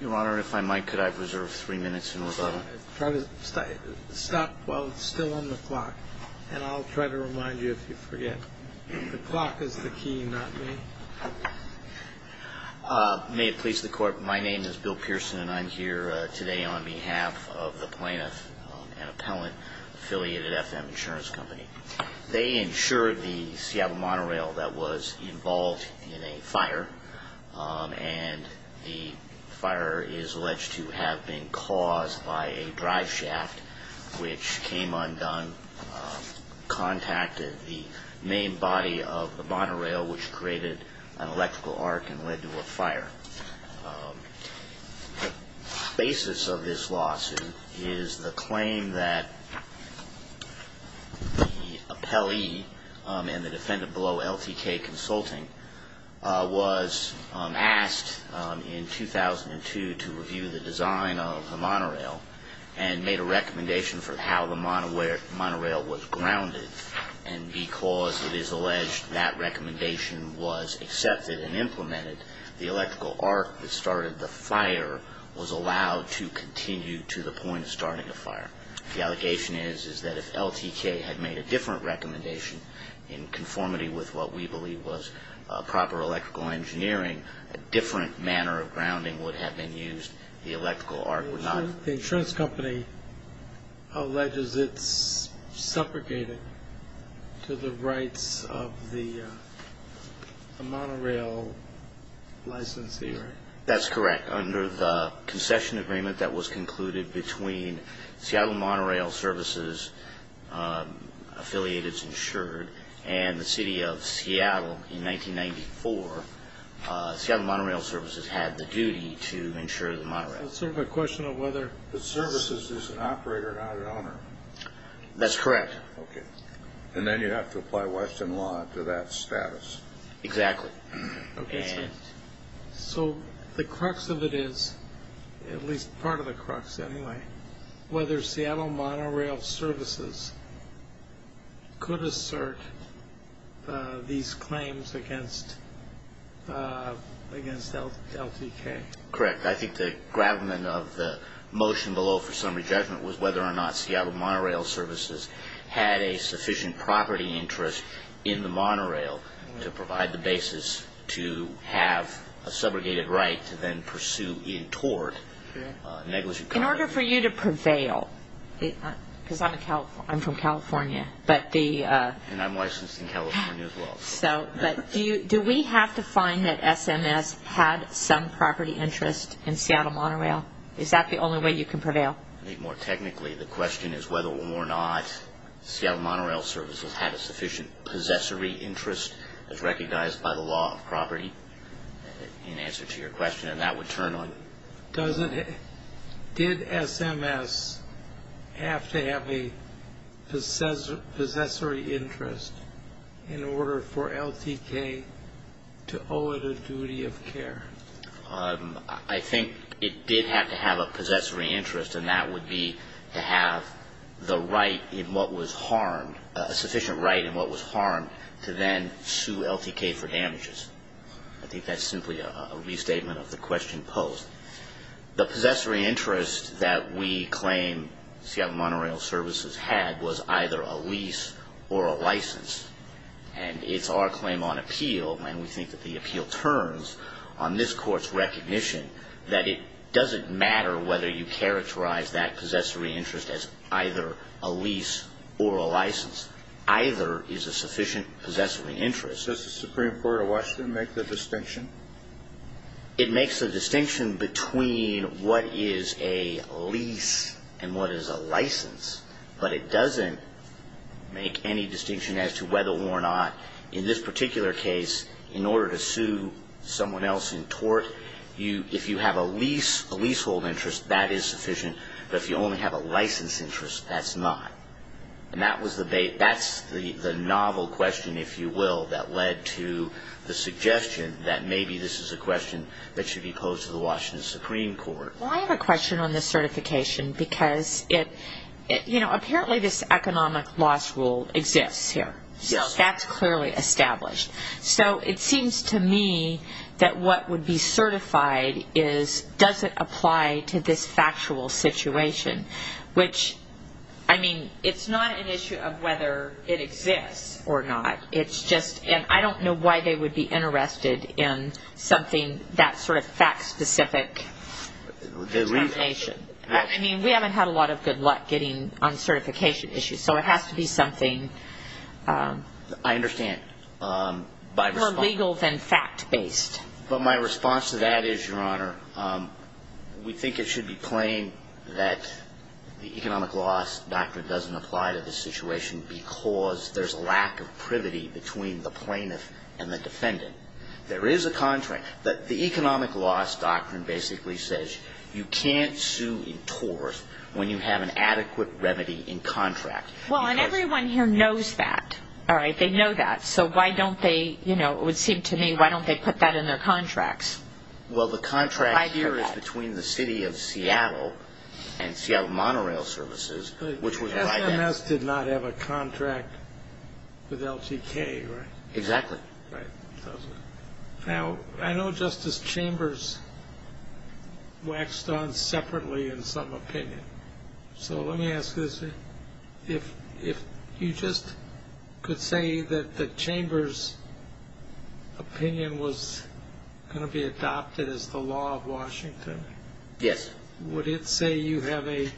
Your Honor, if I might, could I preserve three minutes in rebuttal? Stop while it's still on the clock, and I'll try to remind you if you forget. The clock is the key, not me. May it please the Court, my name is Bill Pearson, and I'm here today on behalf of the plaintiff and appellant affiliated FM Insurance Company. They insured the Seattle monorail that was involved in a fire, and the fire is alleged to have been caused by a driveshaft, which came undone, contacted the main body of the monorail, which created an electrical arc and led to a fire. The basis of this lawsuit is the claim that the appellee and the defendant below LTK Consulting was asked in 2002 to review the design of the monorail and made a recommendation for how the monorail was grounded, and because it is alleged that recommendation was accepted and implemented, the electrical arc that started the fire was allowed to continue to the point of starting a fire. The allegation is that if LTK had made a different recommendation in conformity with what we believe was proper electrical engineering, a different manner of grounding would have been used. The electrical arc would not... The insurance company alleges it's suffocated to the rights of the monorail licensee, right? That's correct. Under the concession agreement that was concluded between Seattle Monorail Services Affiliated Insurance and the City of Seattle in 1994, Seattle Monorail Services had the duty to insure the monorail. It's sort of a question of whether the services is an operator, not an owner. That's correct. Okay. And then you have to apply Western law to that status. Exactly. Okay. So the crux of it is, at least part of the crux anyway, whether Seattle Monorail Services could assert these claims against LTK. Correct. I think the gravamen of the motion below for summary judgment was whether or not Seattle Monorail Services had a sufficient property interest in the monorail to provide the basis to have a subrogated right to then pursue in toward a negligent company. In order for you to prevail, because I'm from California, but the... And I'm licensed in California as well. But do we have to find that SMS had some property interest in Seattle Monorail? Is that the only way you can prevail? I think more technically the question is whether or not Seattle Monorail Services had a sufficient possessory interest as recognized by the law of property in answer to your question, and that would turn on... Does it? Did SMS have to have a possessory interest in order for LTK to owe it a duty of care? I think it did have to have a possessory interest, and that would be to have the right in what was harmed, a sufficient right in what was harmed, to then sue LTK for damages. I think that's simply a restatement of the question posed. The possessory interest that we claim Seattle Monorail Services had was either a lease or a license, and it's our claim on appeal, and we think that the appeal turns on this Court's recognition that it doesn't matter whether you characterize that possessory interest as either a lease or a license. Either is a sufficient possessory interest. Does the Supreme Court of Washington make the distinction? It makes a distinction between what is a lease and what is a license, but it doesn't make any distinction as to whether or not, in this particular case, in order to sue someone else in tort, if you have a leasehold interest, that is sufficient, but if you only have a license interest, that's not. And that's the novel question, if you will, that led to the suggestion that maybe this is a question that should be posed to the Washington Supreme Court. Well, I have a question on this certification because, you know, apparently this economic loss rule exists here. Yes. That's clearly established. So it seems to me that what would be certified doesn't apply to this factual situation, which, I mean, it's not an issue of whether it exists or not. It's just, and I don't know why they would be interested in something that's sort of fact-specific determination. I mean, we haven't had a lot of good luck getting on certification issues, so it has to be something more legal than fact-based. But my response to that is, Your Honor, we think it should be plain that the economic loss doctrine doesn't apply to this situation because there's a lack of privity between the plaintiff and the defendant. There is a contract. The economic loss doctrine basically says you can't sue in torts when you have an adequate remedy in contract. Well, and everyone here knows that. All right? They know that. So why don't they, you know, it would seem to me, why don't they put that in their contracts? Well, the contract here is between the city of Seattle and Seattle Monorail Services, which would provide that. But CMS did not have a contract with LGK, right? Exactly. Right. Now, I know Justice Chambers waxed on separately in some opinion. So let me ask this. If you just could say that the Chambers opinion was going to be adopted as the law of Washington. Yes. Would it say you have a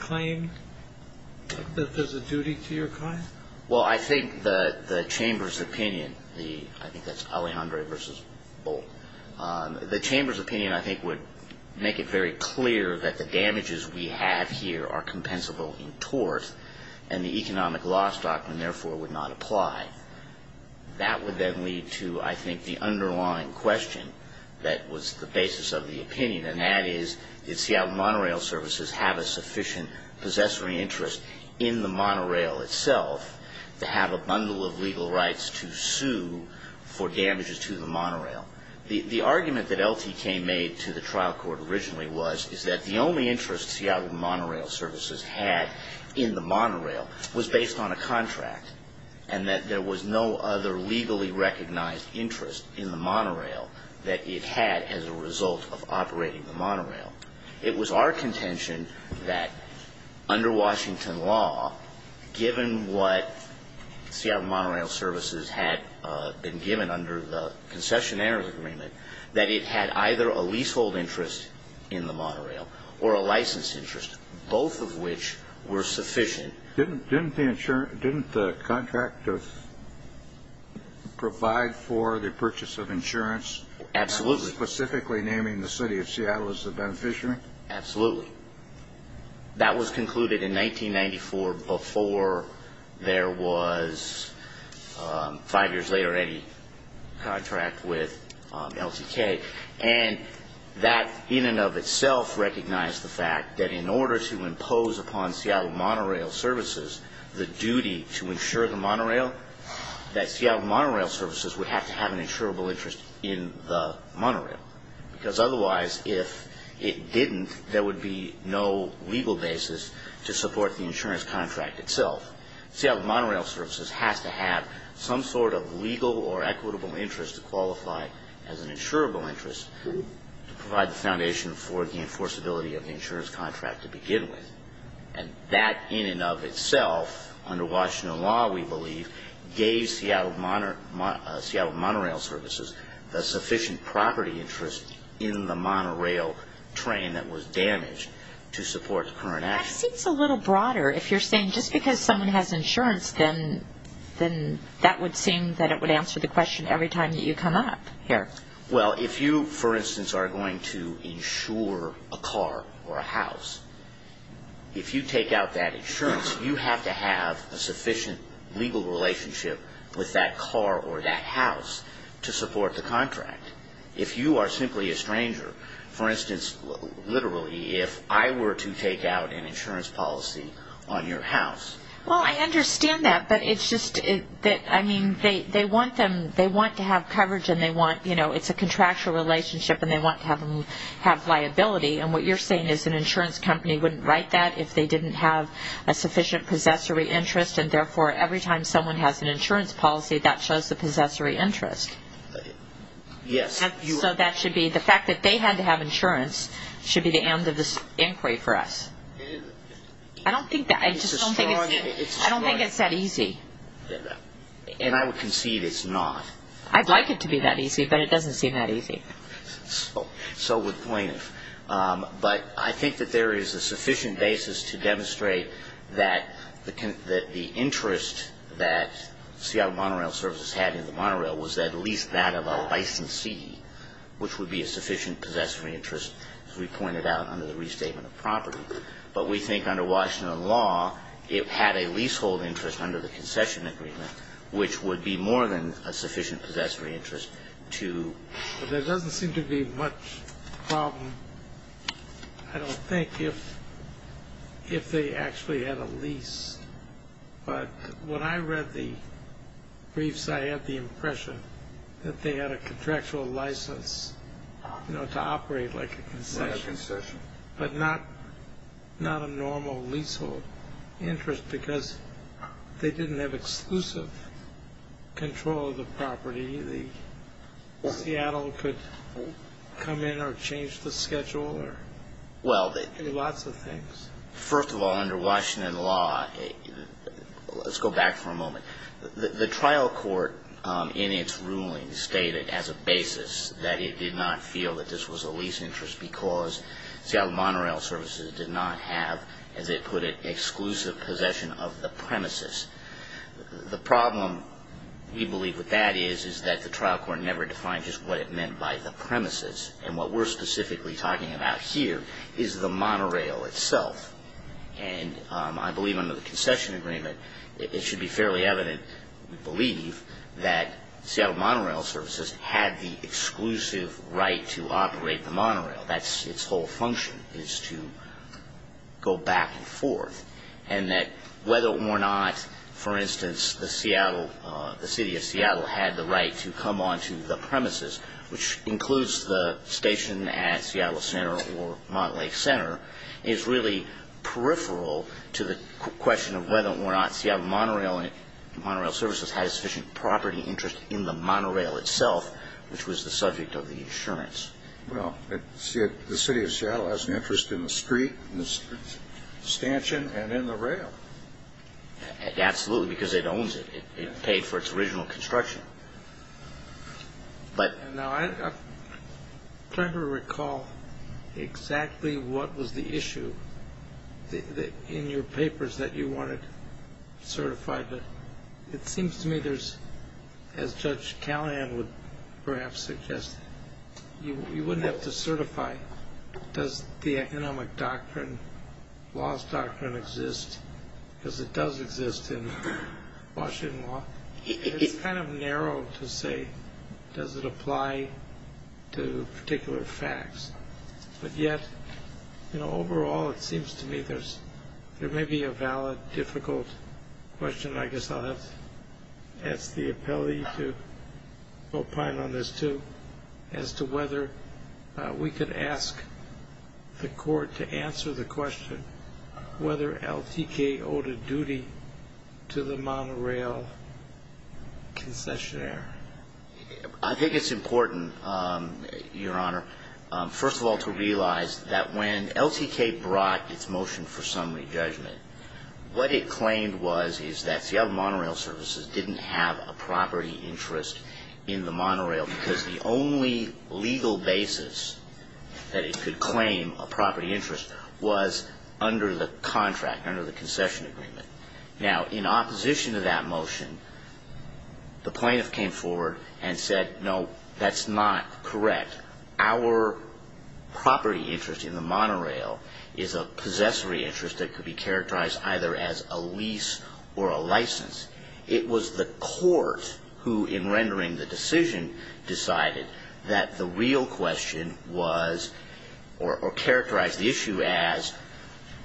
claim, that there's a duty to your claim? Well, I think the Chambers opinion, I think that's Alejandro versus Bolt, the Chambers opinion I think would make it very clear that the damages we have here are compensable in torts and the economic loss doctrine, therefore, would not apply. That would then lead to, I think, the underlying question that was the basis of the opinion, and that is, did Seattle Monorail Services have a sufficient possessory interest in the monorail itself to have a bundle of legal rights to sue for damages to the monorail? The argument that LTK made to the trial court originally was, is that the only interest Seattle Monorail Services had in the monorail was based on a contract, and that there was no other legally recognized interest in the monorail that it had as a result of operating the monorail. It was our contention that under Washington law, given what Seattle Monorail Services had been given under the concessionary agreement, that it had either a leasehold interest in the monorail or a license interest, both of which were sufficient. Didn't the contract provide for the purchase of insurance? Absolutely. Specifically naming the city of Seattle as the beneficiary? Absolutely. That was concluded in 1994 before there was, five years later, any contract with LTK, and that in and of itself recognized the fact that in order to impose upon Seattle Monorail Services the duty to insure the monorail, that Seattle Monorail Services would have to have an insurable interest in the monorail. Because otherwise, if it didn't, there would be no legal basis to support the insurance contract itself. Seattle Monorail Services has to have some sort of legal or equitable interest to qualify as an insurable interest to provide the foundation for the enforceability of the insurance contract to begin with. And that in and of itself, under Washington law we believe, gave Seattle Monorail Services the sufficient property interest in the monorail train that was damaged to support the current action. That seems a little broader. If you're saying just because someone has insurance, then that would seem that it would answer the question every time that you come up here. Well, if you, for instance, are going to insure a car or a house, if you take out that insurance, you have to have a sufficient legal relationship with that car or that house to support the contract. If you are simply a stranger, for instance, literally, if I were to take out an insurance policy on your house. Well, I understand that. But it's just that, I mean, they want to have coverage and they want, you know, it's a contractual relationship and they want to have liability. And what you're saying is an insurance company wouldn't write that if they didn't have a sufficient possessory interest. And therefore, every time someone has an insurance policy, that shows the possessory interest. Yes. So that should be the fact that they had to have insurance should be the end of this inquiry for us. I don't think that. I just don't think it's that easy. And I would concede it's not. I'd like it to be that easy, but it doesn't seem that easy. So would plaintiffs. But I think that there is a sufficient basis to demonstrate that the interest that Seattle Monorail Services had in the monorail was at least that of a licensee, which would be a sufficient possessory interest, as we pointed out under the restatement of property. But we think under Washington law, it had a leasehold interest under the concession agreement, which would be more than a sufficient possessory interest to... There doesn't seem to be much problem, I don't think, if they actually had a lease. But when I read the briefs, I had the impression that they had a contractual license to operate like a concession. Like a concession. But not a normal leasehold interest because they didn't have exclusive control of the property. Seattle could come in or change the schedule or do lots of things. First of all, under Washington law, let's go back for a moment. The trial court in its ruling stated as a basis that it did not feel that this was a lease interest because Seattle Monorail Services did not have, as it put it, exclusive possession of the premises. The problem, we believe, with that is that the trial court never defined just what it meant by the premises. And what we're specifically talking about here is the monorail itself. And I believe under the concession agreement, it should be fairly evident, we believe, that Seattle Monorail Services had the exclusive right to operate the monorail. That's its whole function, is to go back and forth. And that whether or not, for instance, the City of Seattle had the right to come onto the premises, which includes the station at Seattle Center or Montlake Center, is really peripheral to the question of whether or not Seattle Monorail Services had sufficient property interest in the monorail itself, which was the subject of the insurance. Well, the City of Seattle has an interest in the street and the stanchion and in the rail. Absolutely, because it owns it. It paid for its original construction. Now, I'm trying to recall exactly what was the issue in your papers that you wanted certified, but it seems to me there's, as Judge Callahan would perhaps suggest, you wouldn't have to certify, does the economic doctrine, laws doctrine exist, because it does exist in Washington law. It's kind of narrow to say does it apply to particular facts. But yet, you know, overall it seems to me there may be a valid, difficult question. I guess I'll ask the appellee to opine on this too, as to whether we could ask the court to answer the question whether LTK owed a duty to the monorail concessionaire. I think it's important, Your Honor, first of all to realize that when LTK brought its motion for summary judgment, what it claimed was is that Seattle Monorail Services didn't have a property interest in the monorail because the only legal basis that it could claim a property interest was under the contract, under the concession agreement. Now, in opposition to that motion, the plaintiff came forward and said, no, that's not correct. Our property interest in the monorail is a possessory interest that could be characterized either as a lease or a license. It was the court who, in rendering the decision, decided that the real question was or characterized the issue as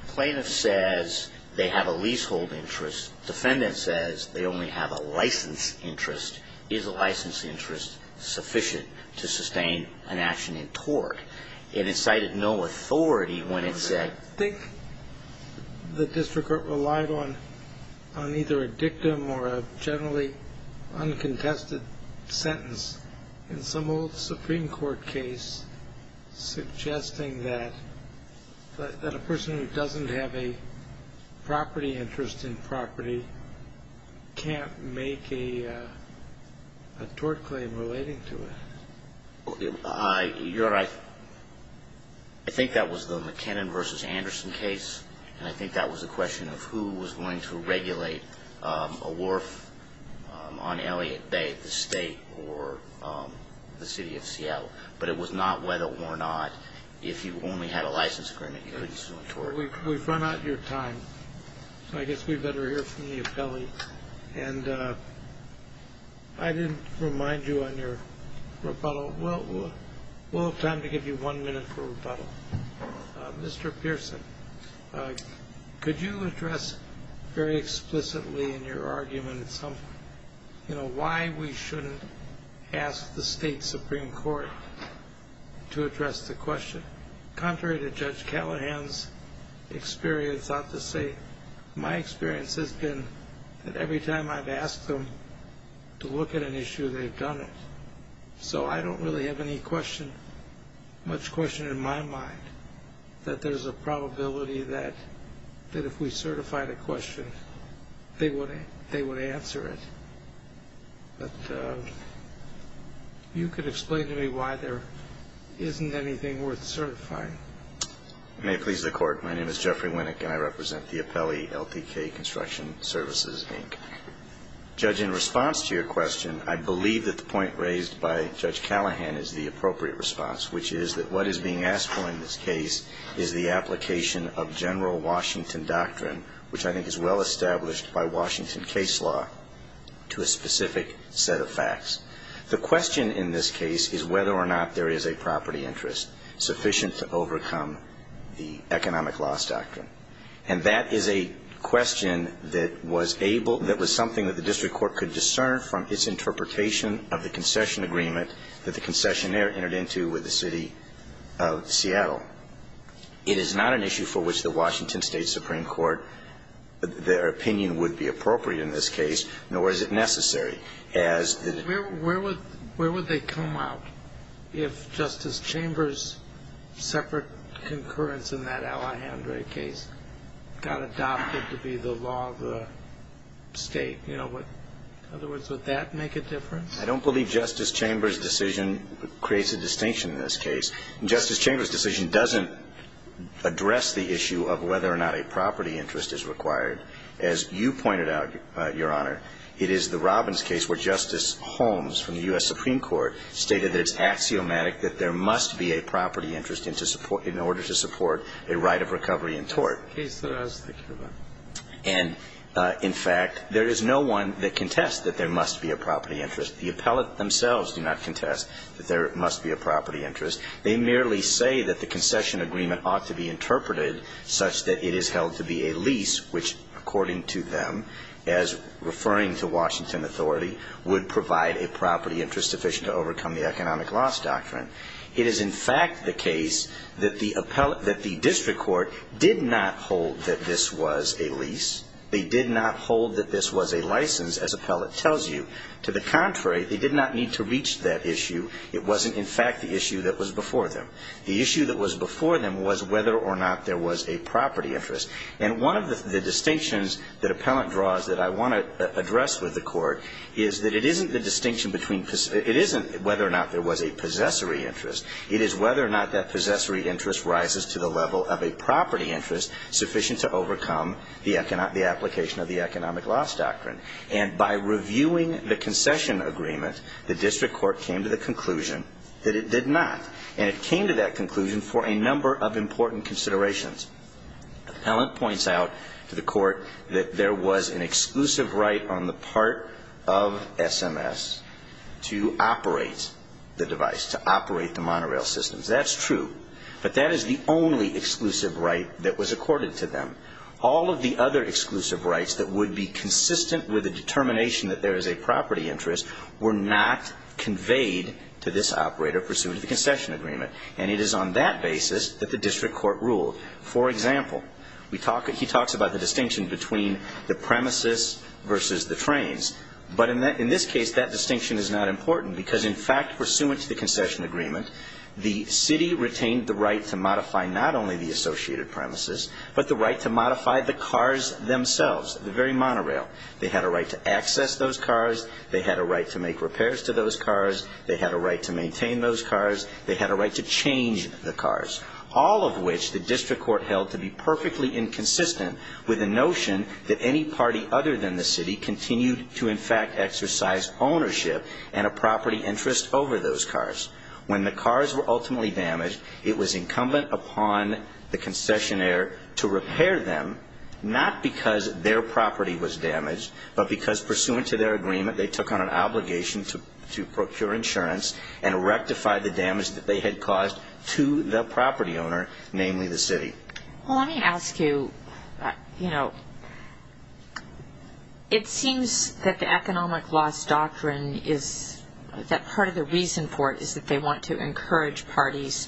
plaintiff says they have a leasehold interest, defendant says they only have a license interest. Is a license interest sufficient to sustain an action in tort? I think the district court relied on either a dictum or a generally uncontested sentence in some old Supreme Court case suggesting that a person who doesn't have a property interest in property can't make a tort claim relating to it. You're right. I think that was the McKinnon v. Anderson case, and I think that was a question of who was going to regulate a wharf on Elliott Bay, the state or the city of Seattle. But it was not whether or not if you only had a license agreement, you couldn't sue a tort. We've run out of your time, so I guess we'd better hear from the appellee. And I didn't remind you on your rebuttal. Well, we'll have time to give you one minute for rebuttal. Mr. Pearson, could you address very explicitly in your argument why we shouldn't ask the state Supreme Court to address the question? Contrary to Judge Callahan's experience, I have to say my experience has been that every time I've asked them to look at an issue, they've done it. So I don't really have any question, much question in my mind, that there's a probability that if we certified a question, they would answer it. But you could explain to me why there isn't anything worth certifying. May it please the Court, my name is Jeffrey Winnick, and I represent the appellee, LTK Construction Services, Inc. Judge, in response to your question, I believe that the point raised by Judge Callahan is the appropriate response, which is that what is being asked for in this case is the application of general Washington doctrine, which I think is well established by Washington case law, to a specific set of facts. The question in this case is whether or not there is a property interest sufficient to overcome the economic loss doctrine. And that is a question that was able, that was something that the district court could discern from its interpretation of the concession agreement that the concessionaire entered into with the City of Seattle. It is not an issue for which the Washington State Supreme Court, their opinion would be appropriate in this case, nor is it necessary. Where would they come out if Justice Chambers' separate concurrence in that Alejandra case got adopted to be the law of the State? In other words, would that make a difference? I don't believe Justice Chambers' decision creates a distinction in this case. Justice Chambers' decision doesn't address the issue of whether or not a property interest is required. As you pointed out, Your Honor, it is the Robbins case where Justice Holmes from the U.S. Supreme Court stated that it's axiomatic that there must be a property interest in order to support a right of recovery in tort. A case that I was thinking about. And, in fact, there is no one that contests that there must be a property interest. The appellate themselves do not contest that there must be a property interest. They merely say that the concession agreement ought to be interpreted such that it is held to be a lease, which, according to them, as referring to Washington authority, would provide a property interest sufficient to overcome the economic loss doctrine. It is, in fact, the case that the district court did not hold that this was a lease. They did not hold that this was a license, as appellate tells you. To the contrary, they did not need to reach that issue. It wasn't, in fact, the issue that was before them. The issue that was before them was whether or not there was a property interest. And one of the distinctions that appellate draws that I want to address with the court is that it isn't the distinction between – it isn't whether or not there was a possessory interest. It is whether or not that possessory interest rises to the level of a property interest sufficient to overcome the application of the economic loss doctrine. And by reviewing the concession agreement, the district court came to the conclusion that it did not. And it came to that conclusion for a number of important considerations. Appellant points out to the court that there was an exclusive right on the part of SMS to operate the device, to operate the monorail systems. That's true. But that is the only exclusive right that was accorded to them. All of the other exclusive rights that would be consistent with the determination that there is a property interest were not conveyed to this operator pursuant to the concession agreement. And it is on that basis that the district court ruled. For example, he talks about the distinction between the premises versus the trains. But in this case, that distinction is not important because, in fact, pursuant to the concession agreement, the city retained the right to modify not only the associated premises, but the right to modify the cars themselves, the very monorail. They had a right to access those cars. They had a right to make repairs to those cars. They had a right to maintain those cars. They had a right to change the cars, all of which the district court held to be perfectly inconsistent with the notion that any party other than the city continued to, in fact, exercise ownership and a property interest over those cars. When the cars were ultimately damaged, it was incumbent upon the concessionaire to repair them, not because their property was damaged, but because, pursuant to their agreement, they took on an obligation to procure insurance and rectify the damage that they had caused to the property owner, namely the city. Well, let me ask you, you know, it seems that the economic loss doctrine is that part of the reason for it is that they want to encourage parties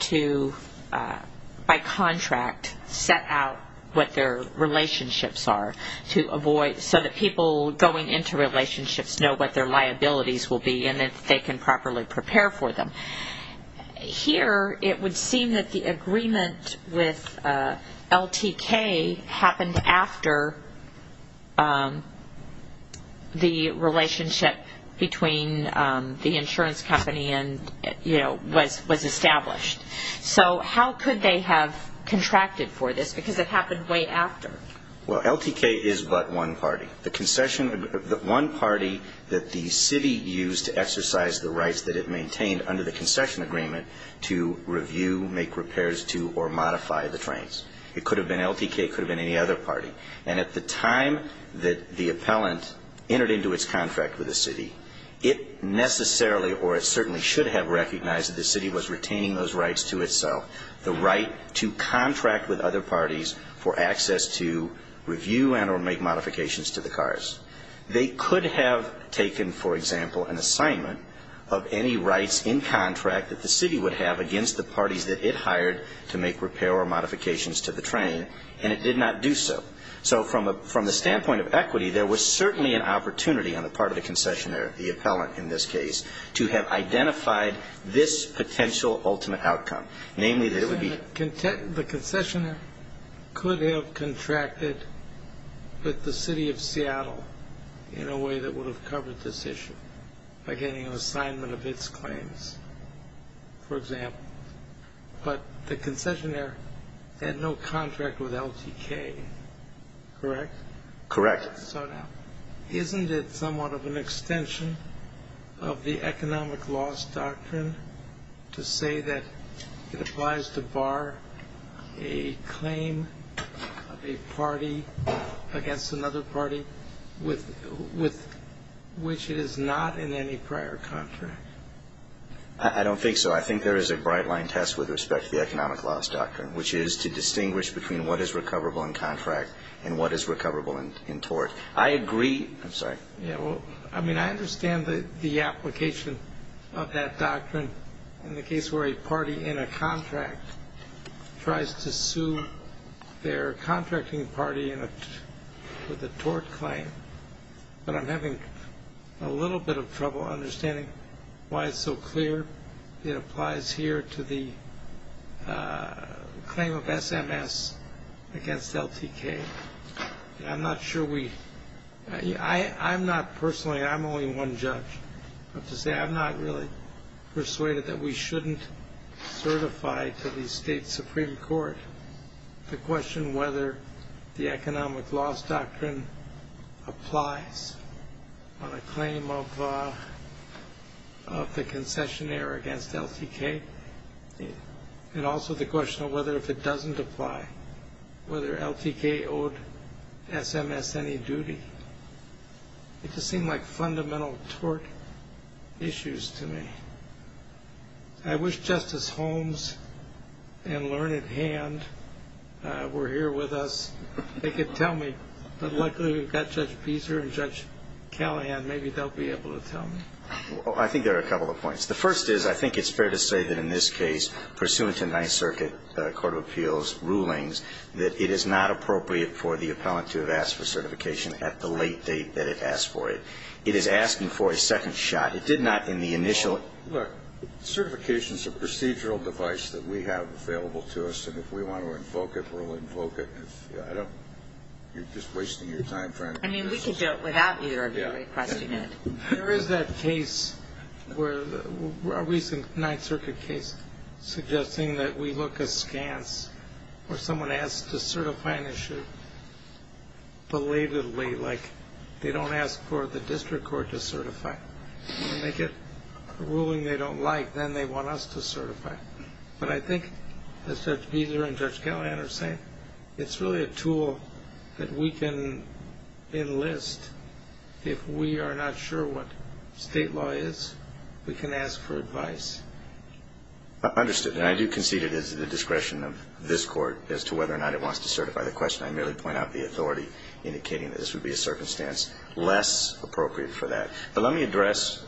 to, by contract, set out what their relationships are to avoid so that people going into relationships know what their liabilities will be and if they can properly prepare for them. Here, it would seem that the agreement with LTK happened after the relationship between the insurance company and, you know, was established. So how could they have contracted for this? Because it happened way after. Well, LTK is but one party. The one party that the city used to exercise the rights that it maintained under the concession agreement to review, make repairs to, or modify the trains. It could have been LTK. It could have been any other party. And at the time that the appellant entered into its contract with the city, it necessarily or it certainly should have recognized that the city was retaining those rights to itself, the right to contract with other parties for access to review and or make modifications to the cars. They could have taken, for example, an assignment of any rights in contract that the city would have against the parties that it hired to make repair or modifications to the train, and it did not do so. So from the standpoint of equity, there was certainly an opportunity on the part of the concessionaire, the appellant in this case, to have identified this potential ultimate outcome, namely that it would be. The concessionaire could have contracted with the city of Seattle in a way that would have covered this issue by getting an assignment of its claims, for example. But the concessionaire had no contract with LTK, correct? Correct. So now, isn't it somewhat of an extension of the economic loss doctrine to say that it applies to bar a claim of a party against another party with which it is not in any prior contract? I don't think so. I think there is a bright-line test with respect to the economic loss doctrine, which is to distinguish between what is recoverable in contract and what is recoverable in tort. I agree. I'm sorry. I mean, I understand the application of that doctrine in the case where a party in a contract tries to sue their contracting party with a tort claim, but I'm having a little bit of trouble understanding why it's so clear. It applies here to the claim of SMS against LTK. I'm not sure we... I'm not personally, I'm only one judge, but to say I'm not really persuaded that we shouldn't certify to the state supreme court the question whether the economic loss doctrine applies on a claim of the concessionaire against LTK and also the question of whether if it doesn't apply, whether LTK owed SMS any duty. It just seemed like fundamental tort issues to me. I wish Justice Holmes and Learned Hand were here with us. They could tell me, but luckily we've got Judge Pizer and Judge Callahan. Maybe they'll be able to tell me. Well, I think there are a couple of points. The first is I think it's fair to say that in this case, pursuant to Ninth Circuit Court of Appeals rulings, that it is not appropriate for the appellant to have asked for certification at the late date that it asked for it. It is asking for a second shot. It did not in the initial... Look, certification is a procedural device that we have available to us, and if we want to invoke it, we'll invoke it. You're just wasting your time trying to... I mean, we could do it without either of you requesting it. There is that case where a recent Ninth Circuit case suggesting that we look askance or someone asks to certify an issue belatedly, like they don't ask for the district court to certify. When they get a ruling they don't like, then they want us to certify. But I think, as Judge Pizer and Judge Callahan are saying, it's really a tool that we can enlist if we are not sure what state law is. We can ask for advice. Understood. And I do concede it is at the discretion of this Court as to whether or not it wants to certify the question. I merely point out the authority indicating that this would be a circumstance less appropriate for that. But let me address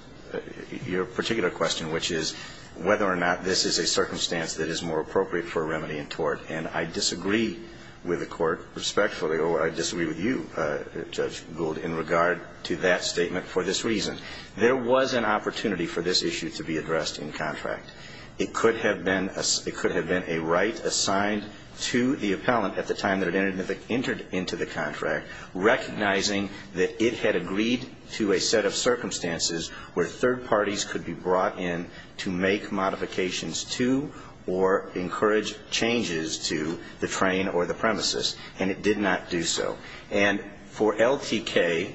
your particular question, which is whether or not this is a circumstance that is more appropriate for a remedy in tort. And I disagree with the Court respectfully, or I disagree with you, Judge Gould, in regard to that statement for this reason. There was an opportunity for this issue to be addressed in contract. It could have been a right assigned to the appellant at the time that it entered into the contract, recognizing that it had agreed to a set of circumstances where third parties could be brought in to make modifications to or encourage changes to the train or the premises, and it did not do so. And for LTK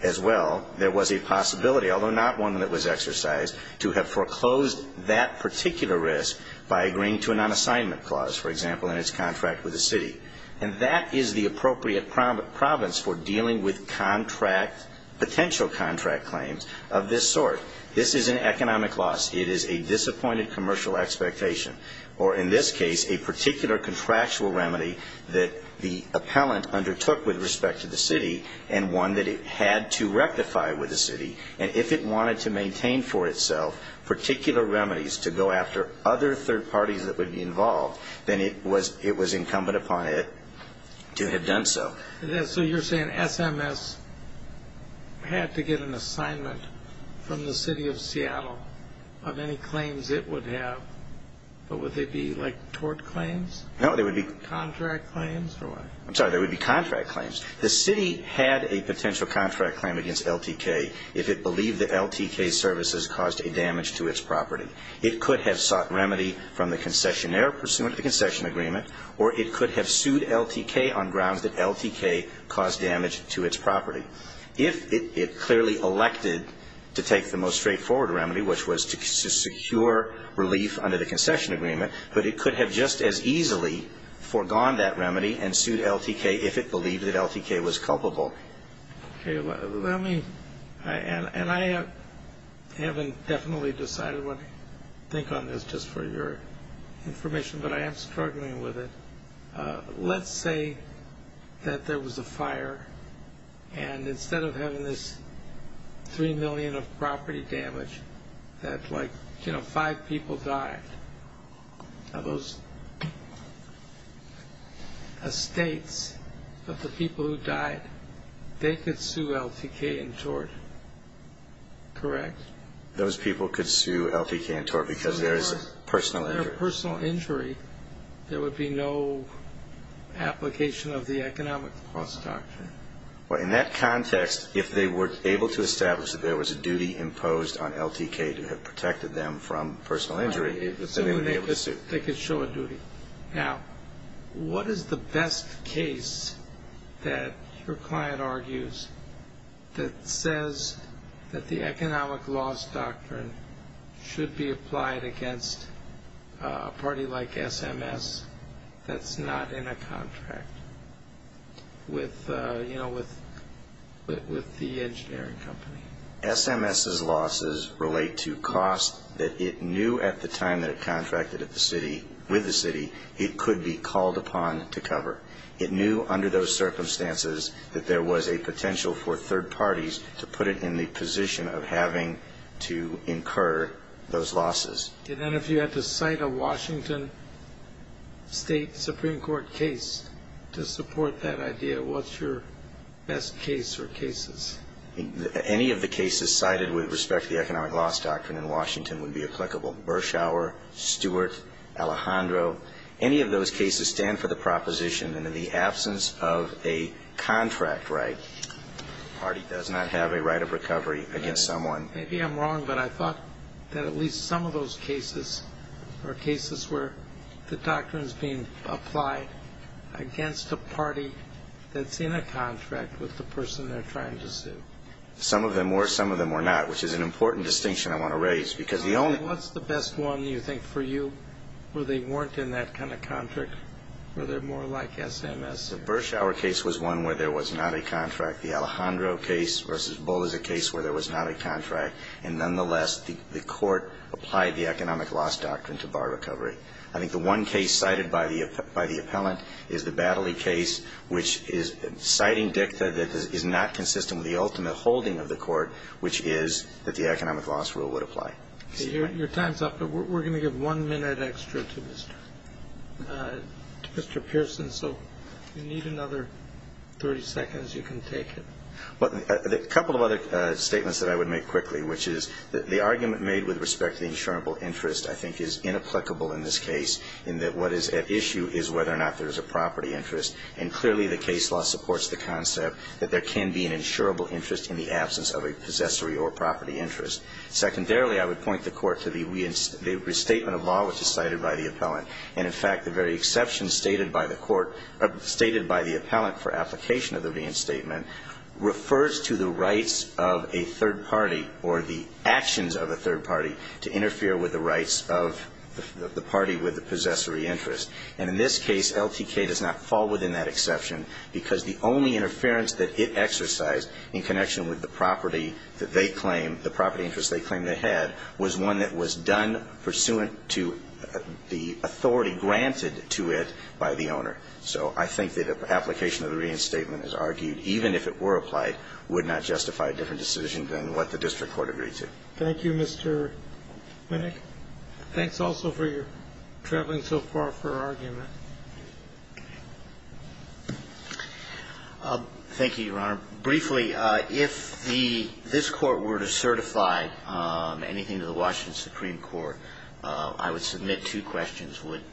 as well, there was a possibility, although not one that was exercised, to have foreclosed that particular risk by agreeing to an unassignment clause, for example, in its contract with the city. And that is the appropriate province for dealing with contract, potential contract claims of this sort. This is an economic loss. It is a disappointed commercial expectation, or in this case, a particular contractual remedy that the appellant undertook with respect to the city and one that it had to rectify with the city. And if it wanted to maintain for itself particular remedies to go after other third parties that would be involved, then it was incumbent upon it to have done so. So you're saying SMS had to get an assignment from the City of Seattle of any claims it would have, but would they be like tort claims? No, they would be contract claims. I'm sorry, they would be contract claims. The city had a potential contract claim against LTK if it believed that LTK services caused a damage to its property. It could have sought remedy from the concessionaire pursuant to the concession agreement, or it could have sued LTK on grounds that LTK caused damage to its property. If it clearly elected to take the most straightforward remedy, which was to secure relief under the concession agreement, but it could have just as easily foregone that remedy and sued LTK if it believed that LTK was culpable. Okay. And I haven't definitely decided what to think on this just for your information, but I am struggling with it. Let's say that there was a fire, and instead of having this 3 million of property damage, that like, you know, five people died. Now those estates of the people who died, they could sue LTK and tort, correct? Those people could sue LTK and tort because there is a personal injury. If there was a personal injury, there would be no application of the economic loss doctrine. Well, in that context, if they were able to establish that there was a duty imposed on LTK to have protected them from personal injury, then they would be able to sue. They could show a duty. Now, what is the best case that your client argues that says that the economic loss doctrine should be applied against a party like SMS that's not in a contract with, you know, with the engineering company? SMS's losses relate to costs that it knew at the time that it contracted with the city, it knew under those circumstances that there was a potential for third parties to put it in the position of having to incur those losses. Then if you had to cite a Washington State Supreme Court case to support that idea, what's your best case or cases? Any of the cases cited with respect to the economic loss doctrine in Washington would be applicable. Birschauer, Stewart, Alejandro, any of those cases stand for the proposition that in the absence of a contract right, the party does not have a right of recovery against someone. Maybe I'm wrong, but I thought that at least some of those cases are cases where the doctrine is being applied against a party that's in a contract with the person they're trying to sue. Some of them were, some of them were not, which is an important distinction I want to raise. What's the best one you think for you where they weren't in that kind of contract, where they're more like SMS? The Birschauer case was one where there was not a contract. The Alejandro case versus Bull is a case where there was not a contract. And nonetheless, the court applied the economic loss doctrine to bar recovery. I think the one case cited by the appellant is the Batley case, which is citing dicta that is not consistent with the ultimate holding of the court, which is that the economic loss rule would apply. Your time's up, but we're going to give one minute extra to Mr. Pearson. So if you need another 30 seconds, you can take it. A couple of other statements that I would make quickly, which is the argument made with respect to the insurable interest I think is inapplicable in this case, in that what is at issue is whether or not there is a property interest. And clearly the case law supports the concept that there can be an insurable interest in the absence of a possessory or property interest. Secondarily, I would point the Court to the restatement of law, which is cited by the appellant. And in fact, the very exception stated by the Court or stated by the appellant for application of the reinstatement refers to the rights of a third party or the actions of a third party to interfere with the rights of the party with the possessory interest. And in this case, LTK does not fall within that exception, because the only interference that it exercised in connection with the property that they claim, the property interest they claim they had, was one that was done pursuant to the authority granted to it by the owner. So I think that an application of the reinstatement as argued, even if it were applied, would not justify a different decision than what the district court agreed to. Thank you, Mr. Minnick. Thanks also for your traveling so far for argument. Thank you, Your Honor. Briefly, if this Court were to certify anything to the Washington Supreme Court, I would submit two questions would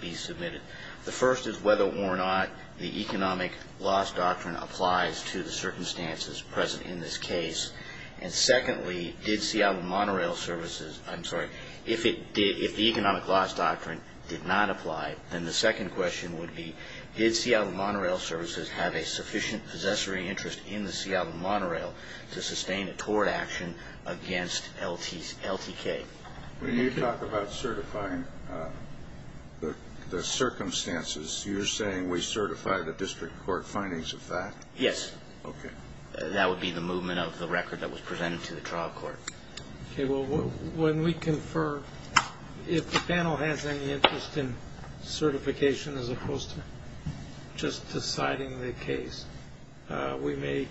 be submitted. The first is whether or not the economic loss doctrine applies to the circumstances present in this case, and secondly, if the economic loss doctrine did not apply, then the second question would be did Seattle Monorail Services have a sufficient possessory interest in the Seattle Monorail to sustain a tort action against LTK? When you talk about certifying the circumstances, you're saying we certify the district court findings of that? Yes. Okay. That would be the movement of the record that was presented to the trial court. Okay. Well, when we confer, if the panel has any interest in certification as opposed to just deciding the case, we may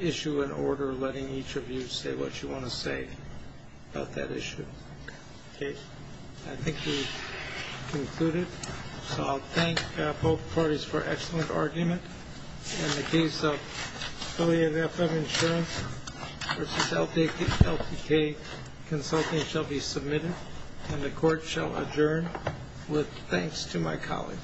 issue an order letting each of you say what you want to say about that issue. Okay. I think we've concluded. So I'll thank both parties for an excellent argument. In the case of affiliate FM insurance versus LTK, consulting shall be submitted and the Court shall adjourn with thanks to my colleagues.